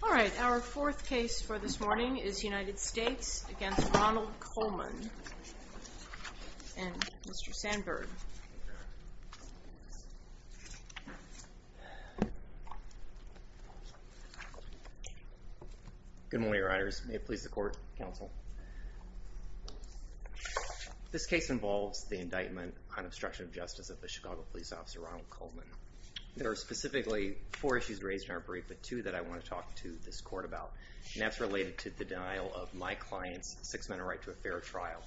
All right, our fourth case for this morning is United States v. Ronald Coleman and Mr. Good morning, Riders. May it please the court, counsel? This case involves the indictment on obstruction of justice of the Chicago Police Officer Ronald Coleman. There are specifically four issues raised in our brief, but two that I want to talk to this court about. And that's related to the denial of my client's six-minute right to a fair trial.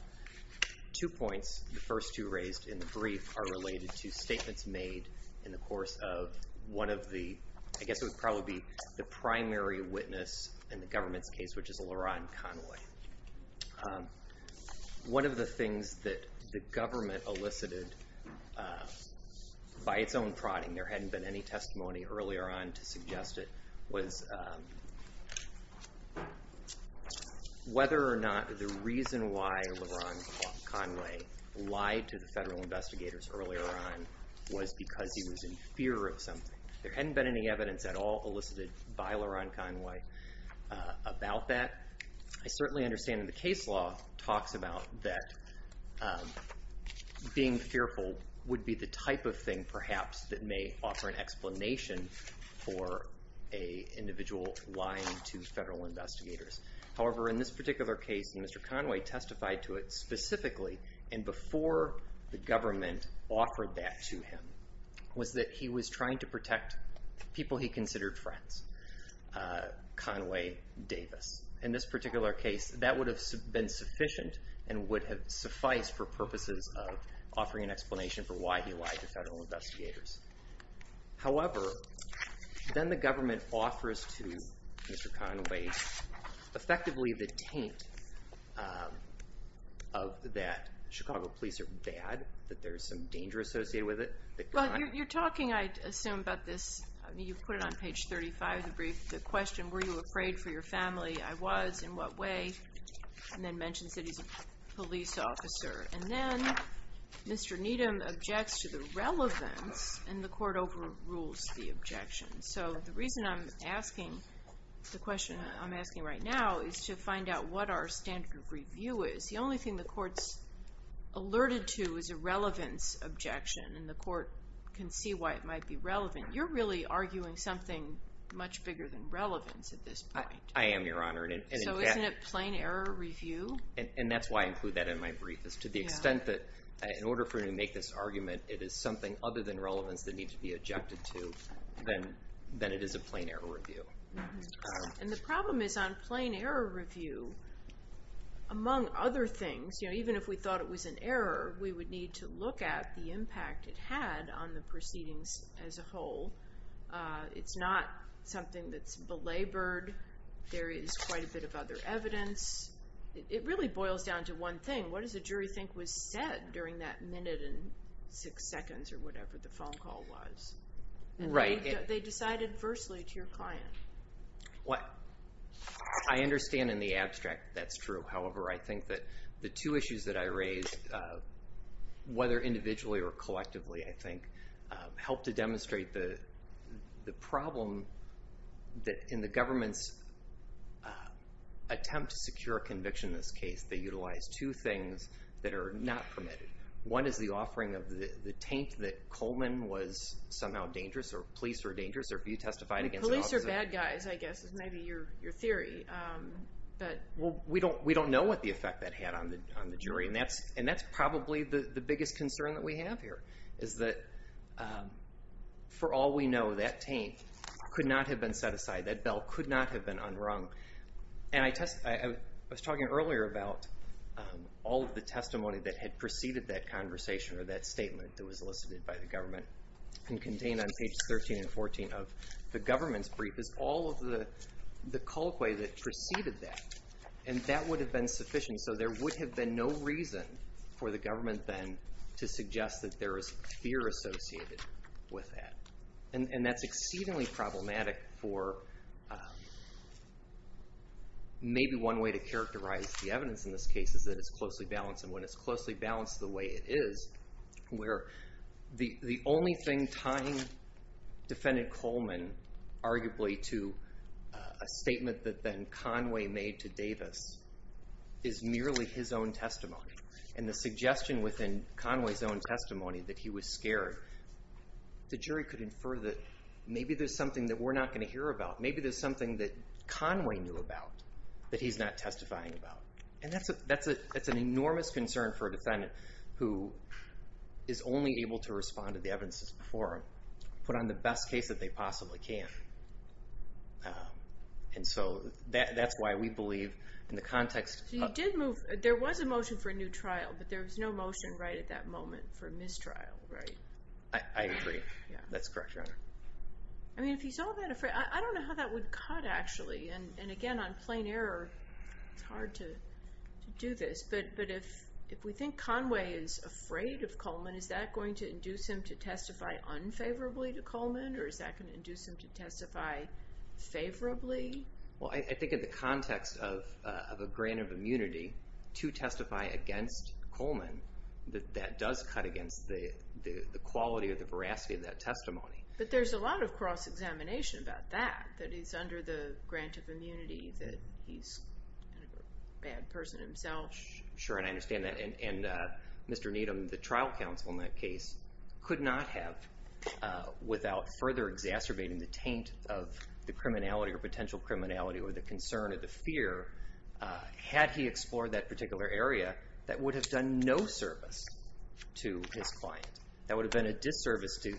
Two points, the first two raised in the brief, are related to statements made in the course of one of the, I guess it would probably be the primary witness in the government's case, which is La'Ron Conway. One of the things that the government elicited by its own prodding, there hadn't been any testimony earlier on to suggest it, was whether or not the reason why La'Ron Conway lied to the federal investigators earlier on was because he was in fear of something. There hadn't been any evidence at all elicited by La'Ron Conway about that. I certainly understand in the case law talks about that being fearful would be the type of thing perhaps that may offer an explanation for an individual lying to federal investigators. However, in this particular case, Mr. Conway testified to it specifically, and before the government offered that to him, was that he was trying to protect people he considered friends. Conway Davis. In this particular case, that would have been sufficient and would have sufficed for purposes of offering an explanation for why he lied to federal investigators. However, then the government offers to Mr. Conway effectively the taint of that Chicago police are bad, that there's some danger associated with it. Well, you're talking, I assume, about this, you put it on page 35, the question, were you afraid for your family? I was. In what way? And then mentions that he's a police officer. And then, Mr. Needham objects to the relevance, and the court overrules the objection. So the reason I'm asking the question I'm asking right now is to find out what our standard of review is. The only thing the court's alerted to is a relevance objection, and the court can see why it might be relevant. You're really arguing something much bigger than relevance at this point. I am, Your Honor. So isn't it plain error review? And that's why I include that in my brief, is to the extent that in order for me to make this argument, it is something other than relevance that needs to be objected to, then it is a plain error review. And the problem is on plain error review, among other things, even if we thought it was an error, we would need to look at the impact it had on the proceedings as a whole. It's not something that's belabored. There is quite a bit of other evidence. It really boils down to one thing. What does the jury think was said during that minute and six seconds, or whatever the phone call was? They decided firstly to your client. Police are bad guys, I guess, is maybe your theory. We don't know what the effect that had on the jury, and that's probably the biggest concern that we have here, is that for all we know, that taint could not have been set aside. That bell could not have been unrung. And I was talking earlier about all of the testimony that had preceded that conversation, or that statement that was elicited by the government, and contained on pages 13 and 14 of the government's brief, is all of the Maybe one way to characterize the evidence in this case is that it's closely balanced. And when it's closely balanced the way it is, where the only thing tying defendant Coleman, arguably to a statement that then Conway made to Davis, is merely his own testimony. And the suggestion within Conway's own testimony that he was scared, the jury could infer that maybe there's something that we're not going to hear about. Maybe there's something that Conway knew about that he's not testifying about. And that's an enormous concern for a defendant who is only able to respond to the evidence that's before him, put on the best case that they possibly can. And so that's why we believe in the context of You did move, there was a motion for a new trial, but there was no motion right at that moment for a mistrial, right? I agree. That's correct, Your Honor. I mean, if he's all that afraid, I don't know how that would cut, actually. And again, on plain error, it's hard to do this. But if we think Conway is afraid of Coleman, is that going to induce him to testify unfavorably to Coleman? Or is that going to induce him to testify favorably? Well, I think in the context of a grant of immunity to testify against Coleman, that that does cut against the quality or the veracity of that testimony. But there's a lot of cross-examination about that, that he's under the grant of immunity, that he's a bad person himself. Sure, and I understand that. And Mr. Needham, the trial counsel in that case, could not have, without further exacerbating the taint of the criminality or potential criminality or the concern or the fear, had he explored that particular area, that would have done no service to his client. That would have been a disservice to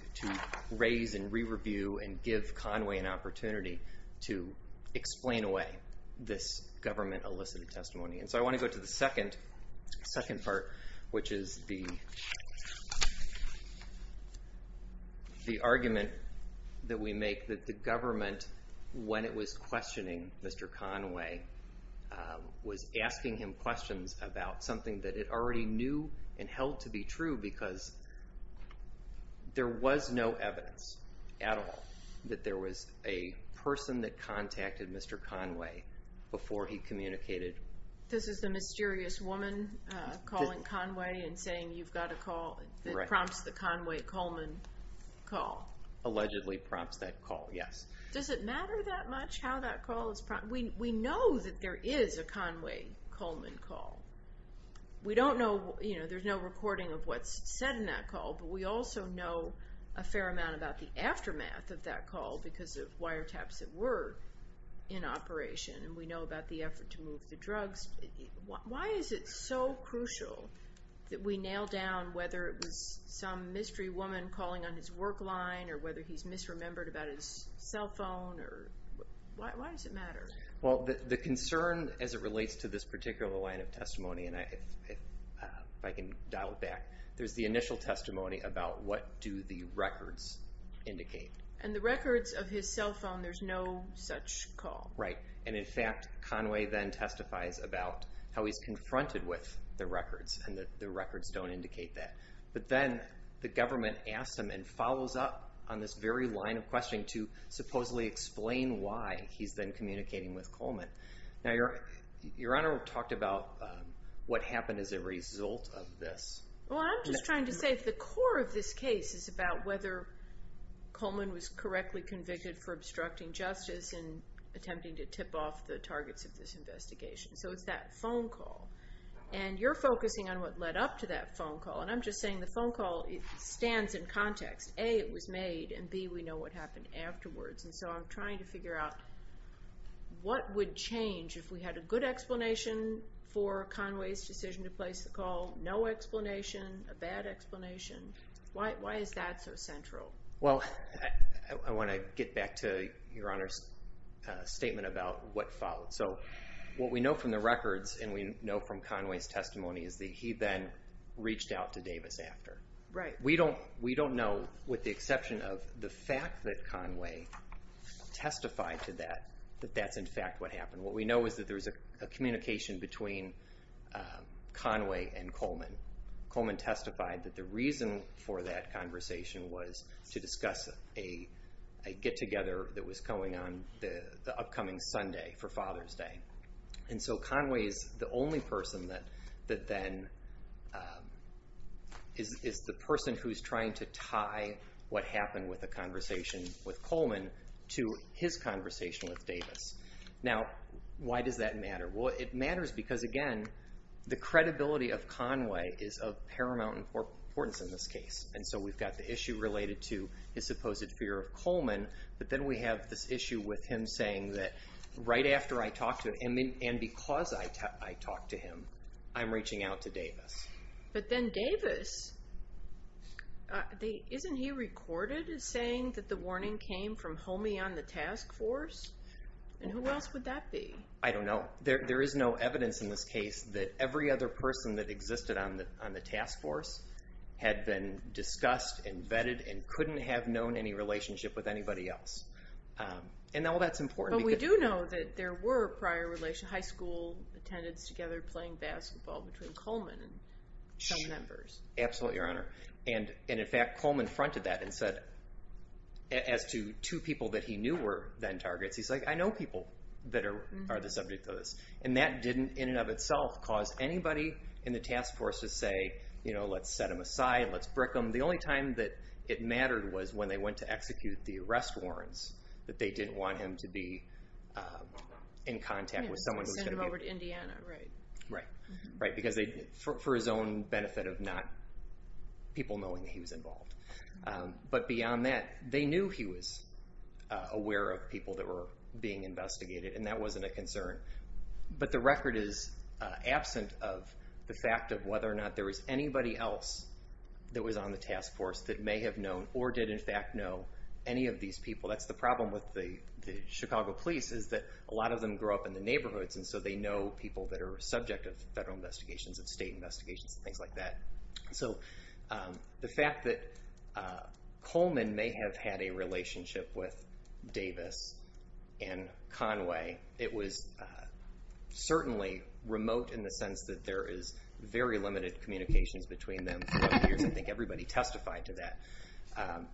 raise and re-review and give Conway an opportunity to explain away this government-elicited testimony. And so I want to go to the second part, which is the argument that we make that the government, when it was questioning Mr. Conway, was asking him questions about something that it already knew and held to be true, because there was no evidence at all that there was a person that contacted Mr. Conway before he communicated. This is the mysterious woman calling Conway and saying, you've got a call that prompts the Conway-Coleman call. Allegedly prompts that call, yes. Does it matter that much how that call is prompted? We know that there is a Conway-Coleman call. We don't know, you know, there's no recording of what's said in that call, but we also know a fair amount about the aftermath of that call because of wiretaps that were in operation. And we know about the effort to move the drugs. Why is it so crucial that we nail down whether it was some mystery woman calling on his work line or whether he's misremembered about his cell phone? Why does it matter? Well, the concern as it relates to this particular line of testimony, and if I can dial it back, there's the initial testimony about what do the records indicate. And the records of his cell phone, there's no such call. Right, and in fact, Conway then testifies about how he's confronted with the records and the records don't indicate that. But then the government asks him and follows up on this very line of questioning to supposedly explain why he's then communicating with Coleman. Now, Your Honor talked about what happened as a result of this. Well, I'm just trying to say the core of this case is about whether Coleman was correctly convicted for obstructing justice and attempting to tip off the targets of this investigation. So it's that phone call. And you're focusing on what led up to that phone call. And I'm just saying the phone call stands in context. A, it was made, and B, we know what happened afterwards. And so I'm trying to figure out what would change if we had a good explanation for Conway's decision to place the call, no explanation, a bad explanation. Why is that so central? Well, I want to get back to Your Honor's statement about what followed. So what we know from the records and we know from Conway's testimony is that he then reached out to Davis after. Right. We don't know, with the exception of the fact that Conway testified to that, that that's in fact what happened. What we know is that there was a communication between Conway and Coleman. Coleman testified that the reason for that conversation was to discuss a get-together that was going on the upcoming Sunday for Father's Day. And so Conway is the only person that then is the person who's trying to tie what happened with the conversation with Coleman to his conversation with Davis. Now, why does that matter? Well, it matters because, again, the credibility of Conway is of paramount importance in this case. And so we've got the issue related to his supposed fear of Coleman. But then we have this issue with him saying that right after I talked to him, and because I talked to him, I'm reaching out to Davis. But then Davis, isn't he recorded as saying that the warning came from Comey on the task force? And who else would that be? I don't know. There is no evidence in this case that every other person that existed on the task force had been discussed and vetted and couldn't have known any relationship with anybody else. And all that's important. But we do know that there were prior high school attendants together playing basketball between Coleman and some members. Absolutely, Your Honor. And in fact, Coleman fronted that and said, as to two people that he knew were then targets, he's like, I know people that are the subject of this. And that didn't, in and of itself, cause anybody in the task force to say, let's set him aside, let's brick him. The only time that it mattered was when they went to execute the arrest warrants, that they didn't want him to be in contact with someone who was going to be- Send him over to Indiana, right. Right. Right, because for his own benefit of not people knowing that he was involved. But beyond that, they knew he was aware of people that were being investigated. And that wasn't a concern. But the record is absent of the fact of whether or not there was anybody else that was on the task force that may have known or did in fact know any of these people. That's the problem with the Chicago police is that a lot of them grew up in the neighborhoods. And so they know people that are subject of federal investigations and state investigations and things like that. So the fact that Coleman may have had a relationship with Davis and Conway, it was certainly remote in the sense that there is very limited communications between them. I think everybody testified to that.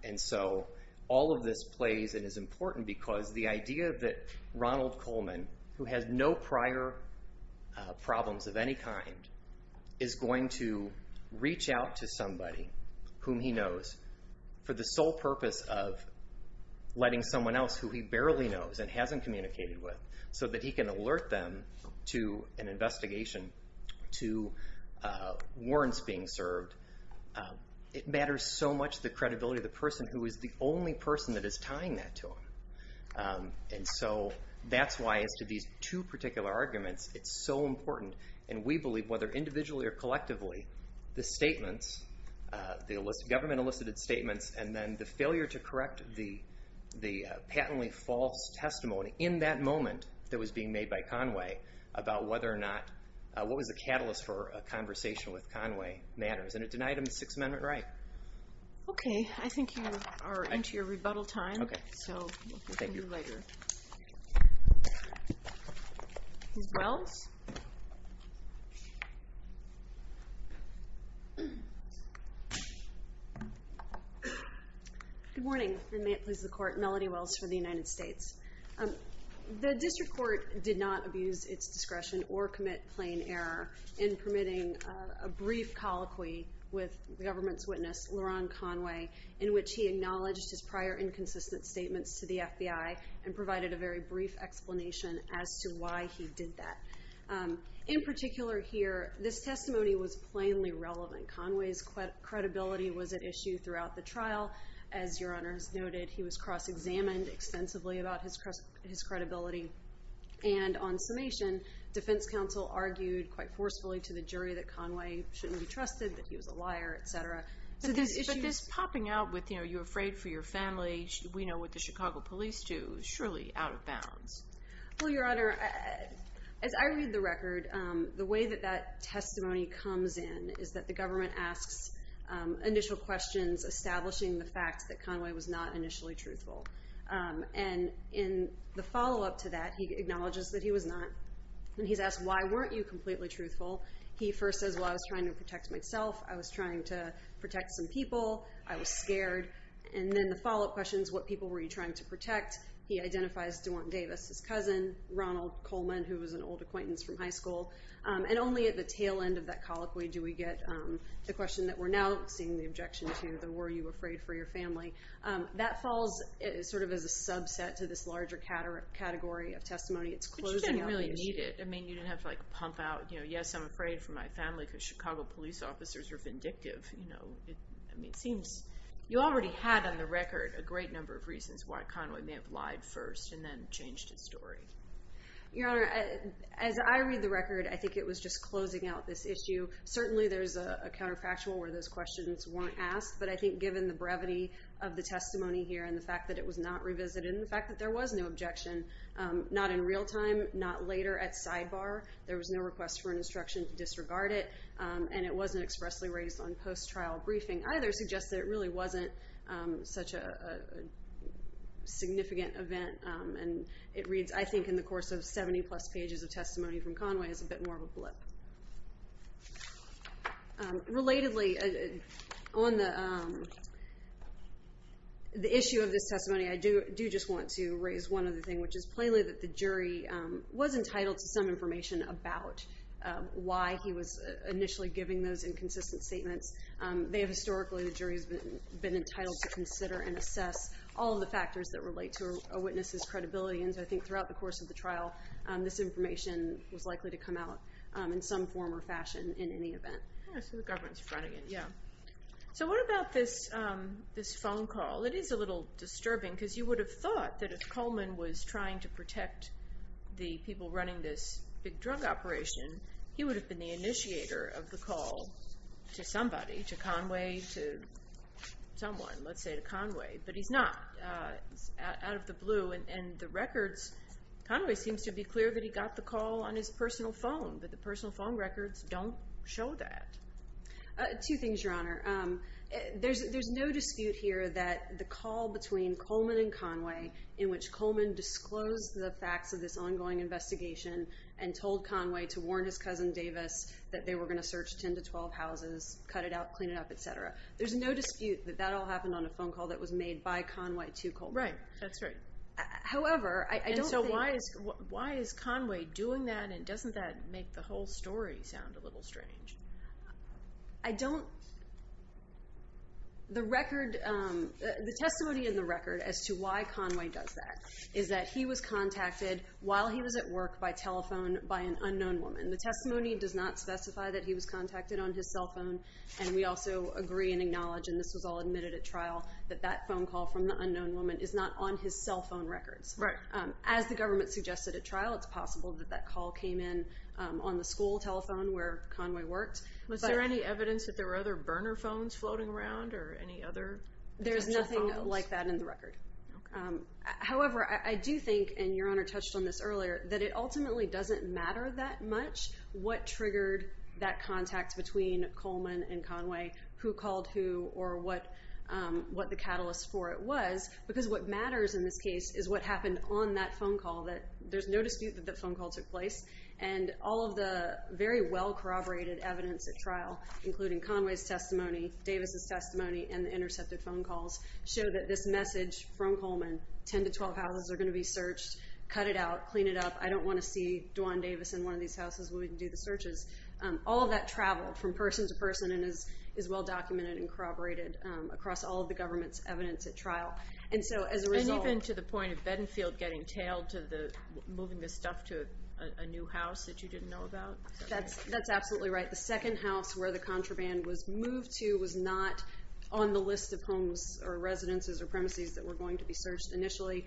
And so all of this plays and is important because the idea that Ronald Coleman, who has no prior problems of any kind, is going to reach out to somebody whom he knows for the sole purpose of letting someone else who he barely knows and hasn't communicated with so that he can alert them to an investigation, to warrants being served. It matters so much the credibility of the person who is the only person that is tying that to him. And so that's why as to these two particular arguments, it's so important. And we believe whether individually or collectively, the statements, the government elicited statements and then the failure to correct the patently false testimony in that moment that was being made by Conway about whether or not, what was the catalyst for a conversation with Conway matters. And it denied him the Sixth Amendment right. OK. I think you are into your rebuttal time. OK. So we'll hear from you later. Thank you. Ms. Wells? Good morning. And may it please the Court. Melody Wells for the United States. The District Court did not abuse its discretion or commit plain error in permitting a brief colloquy with the government's witness, Laron Conway, in which he acknowledged his prior inconsistent statements to the FBI and provided a very brief explanation as to why he did that. In particular here, this testimony was plainly relevant. Conway's credibility was at issue throughout the trial. As Your Honor has noted, he was cross-examined extensively about his credibility. And on summation, defense counsel argued quite forcefully to the jury that Conway shouldn't be trusted, that he was a liar, et cetera. But this popping out with, you know, you're afraid for your family, we know what the Chicago police do, surely out of bounds. Well, Your Honor, as I read the record, the way that that testimony comes in is that the government asks initial questions establishing the fact that Conway was not initially truthful. And in the follow-up to that, he acknowledges that he was not. And he's asked, why weren't you completely truthful? He first says, well, I was trying to protect myself. I was trying to protect some people. I was scared. And then the follow-up question is, what people were you trying to protect? He identifies Dewont Davis as cousin, Ronald Coleman, who was an old acquaintance from high school. And only at the tail end of that colloquy do we get the question that we're now seeing the objection to, though, were you afraid for your family? That falls sort of as a subset to this larger category of testimony. It's closing out the issue. But you didn't really need it. I mean, you didn't have to, like, pump out, you know, yes, I'm afraid for my family because Chicago police officers are vindictive. It seems you already had on the record a great number of reasons why Conway may have lied first and then changed his story. Your Honor, as I read the record, I think it was just closing out this issue. Certainly, there's a counterfactual where those questions weren't asked. But I think given the brevity of the testimony here and the fact that it was not revisited and the fact that there was no objection, not in real time, not later at sidebar. There was no request for an instruction to disregard it. And it wasn't expressly raised on post-trial briefing either suggests that it really wasn't such a significant event. And it reads, I think, in the course of 70-plus pages of testimony from Conway as a bit more of a blip. Relatedly, on the issue of this testimony, I do just want to raise one other thing, which is plainly that the jury was entitled to some information about why he was initially giving those inconsistent statements. Historically, the jury has been entitled to consider and assess all of the factors that relate to a witness's credibility. And I think throughout the course of the trial, this information was likely to come out in some form or fashion in any event. So the government's running it, yeah. So what about this phone call? It is a little disturbing because you would have thought that if Coleman was trying to protect the people running this big drug operation, he would have been the initiator of the call to somebody, to Conway, to someone, let's say to Conway. But he's not. It's out of the blue. And the records, Conway seems to be clear that he got the call on his personal phone, but the personal phone records don't show that. Two things, Your Honor. There's no dispute here that the call between Coleman and Conway in which Coleman disclosed the facts of this ongoing investigation and told Conway to warn his cousin Davis that they were going to search 10 to 12 houses, cut it out, clean it up, et cetera. There's no dispute that that all happened on a phone call that was made by Conway to Coleman. Right. That's right. However, I don't think – And so why is Conway doing that, and doesn't that make the whole story sound a little strange? I don't – the record – the testimony in the record as to why Conway does that is that he was contacted while he was at work by telephone by an unknown woman. The testimony does not specify that he was contacted on his cell phone, and we also agree and acknowledge, and this was all admitted at trial, that that phone call from the unknown woman is not on his cell phone records. Right. As the government suggested at trial, it's possible that that call came in on the school telephone where Conway worked. Was there any evidence that there were other burner phones floating around or any other telephone calls? There's nothing like that in the record. However, I do think, and Your Honor touched on this earlier, that it ultimately doesn't matter that much what triggered that contact between Coleman and Conway, who called who, or what the catalyst for it was, because what matters in this case is what happened on that phone call. There's no dispute that that phone call took place, and all of the very well corroborated evidence at trial, including Conway's testimony, Davis' testimony, and the intercepted phone calls, show that this message from Coleman, 10 to 12 houses are going to be searched, cut it out, clean it up, I don't want to see Dwan Davis in one of these houses where we can do the searches, all of that traveled from person to person and is well documented and corroborated across all of the government's evidence at trial. And so as a result... And even to the point of Benfield getting tailed to moving this stuff to a new house that you didn't know about? That's absolutely right. The second house where the contraband was moved to was not on the list of homes or residences or premises that were going to be searched initially.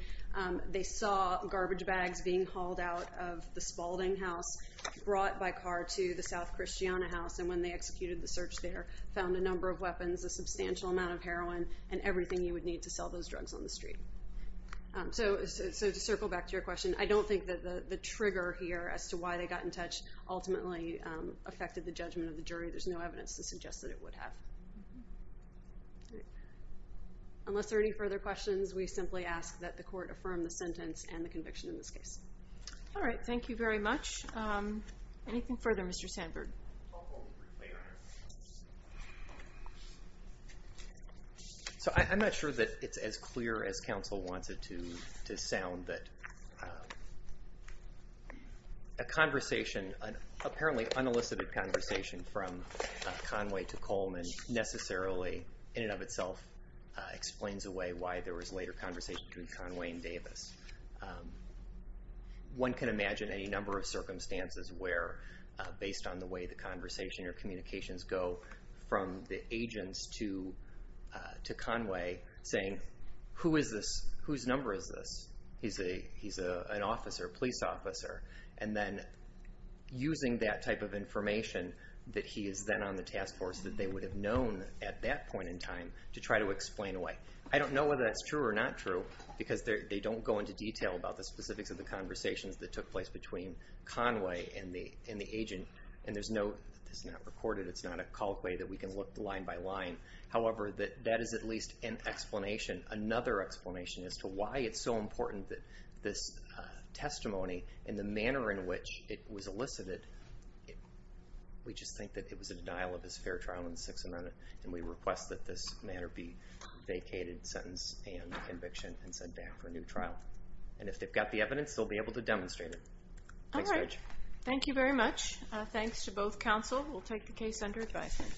They saw garbage bags being hauled out of the Spalding house, brought by car to the South Christiana house, and when they executed the search there, found a number of weapons, a substantial amount of heroin, and everything you would need to sell those drugs on the street. So to circle back to your question, I don't think that the trigger here as to why they got in touch ultimately affected the judgment of the jury. There's no evidence to suggest that it would have. Unless there are any further questions, we simply ask that the court affirm the sentence and the conviction in this case. All right. Thank you very much. Anything further, Mr. Sandberg? So I'm not sure that it's as clear as counsel wants it to sound that a conversation, an apparently unelicited conversation from Conway to Coleman necessarily, in and of itself, explains away why there was later conversation between Conway and Davis. One can imagine any number of circumstances where, based on the way the conversation or communications go from the agents to Conway, saying, Who is this? Whose number is this? He's an officer, a police officer. And then using that type of information that he is then on the task force that they would have known at that point in time to try to explain away. I don't know whether that's true or not true because they don't go into detail about the specifics of the conversations that took place between Conway and the agent. And there's no, it's not recorded, it's not a call way that we can look line by line. However, that is at least an explanation, another explanation as to why it's so important that this testimony and the manner in which it was elicited, we just think that it was a denial of his fair trial in the Sixth Amendment and we request that this matter be vacated sentence and conviction and sent back for a new trial. And if they've got the evidence, they'll be able to demonstrate it. All right. Thank you very much. Thanks to both counsel. We'll take the case under advisement.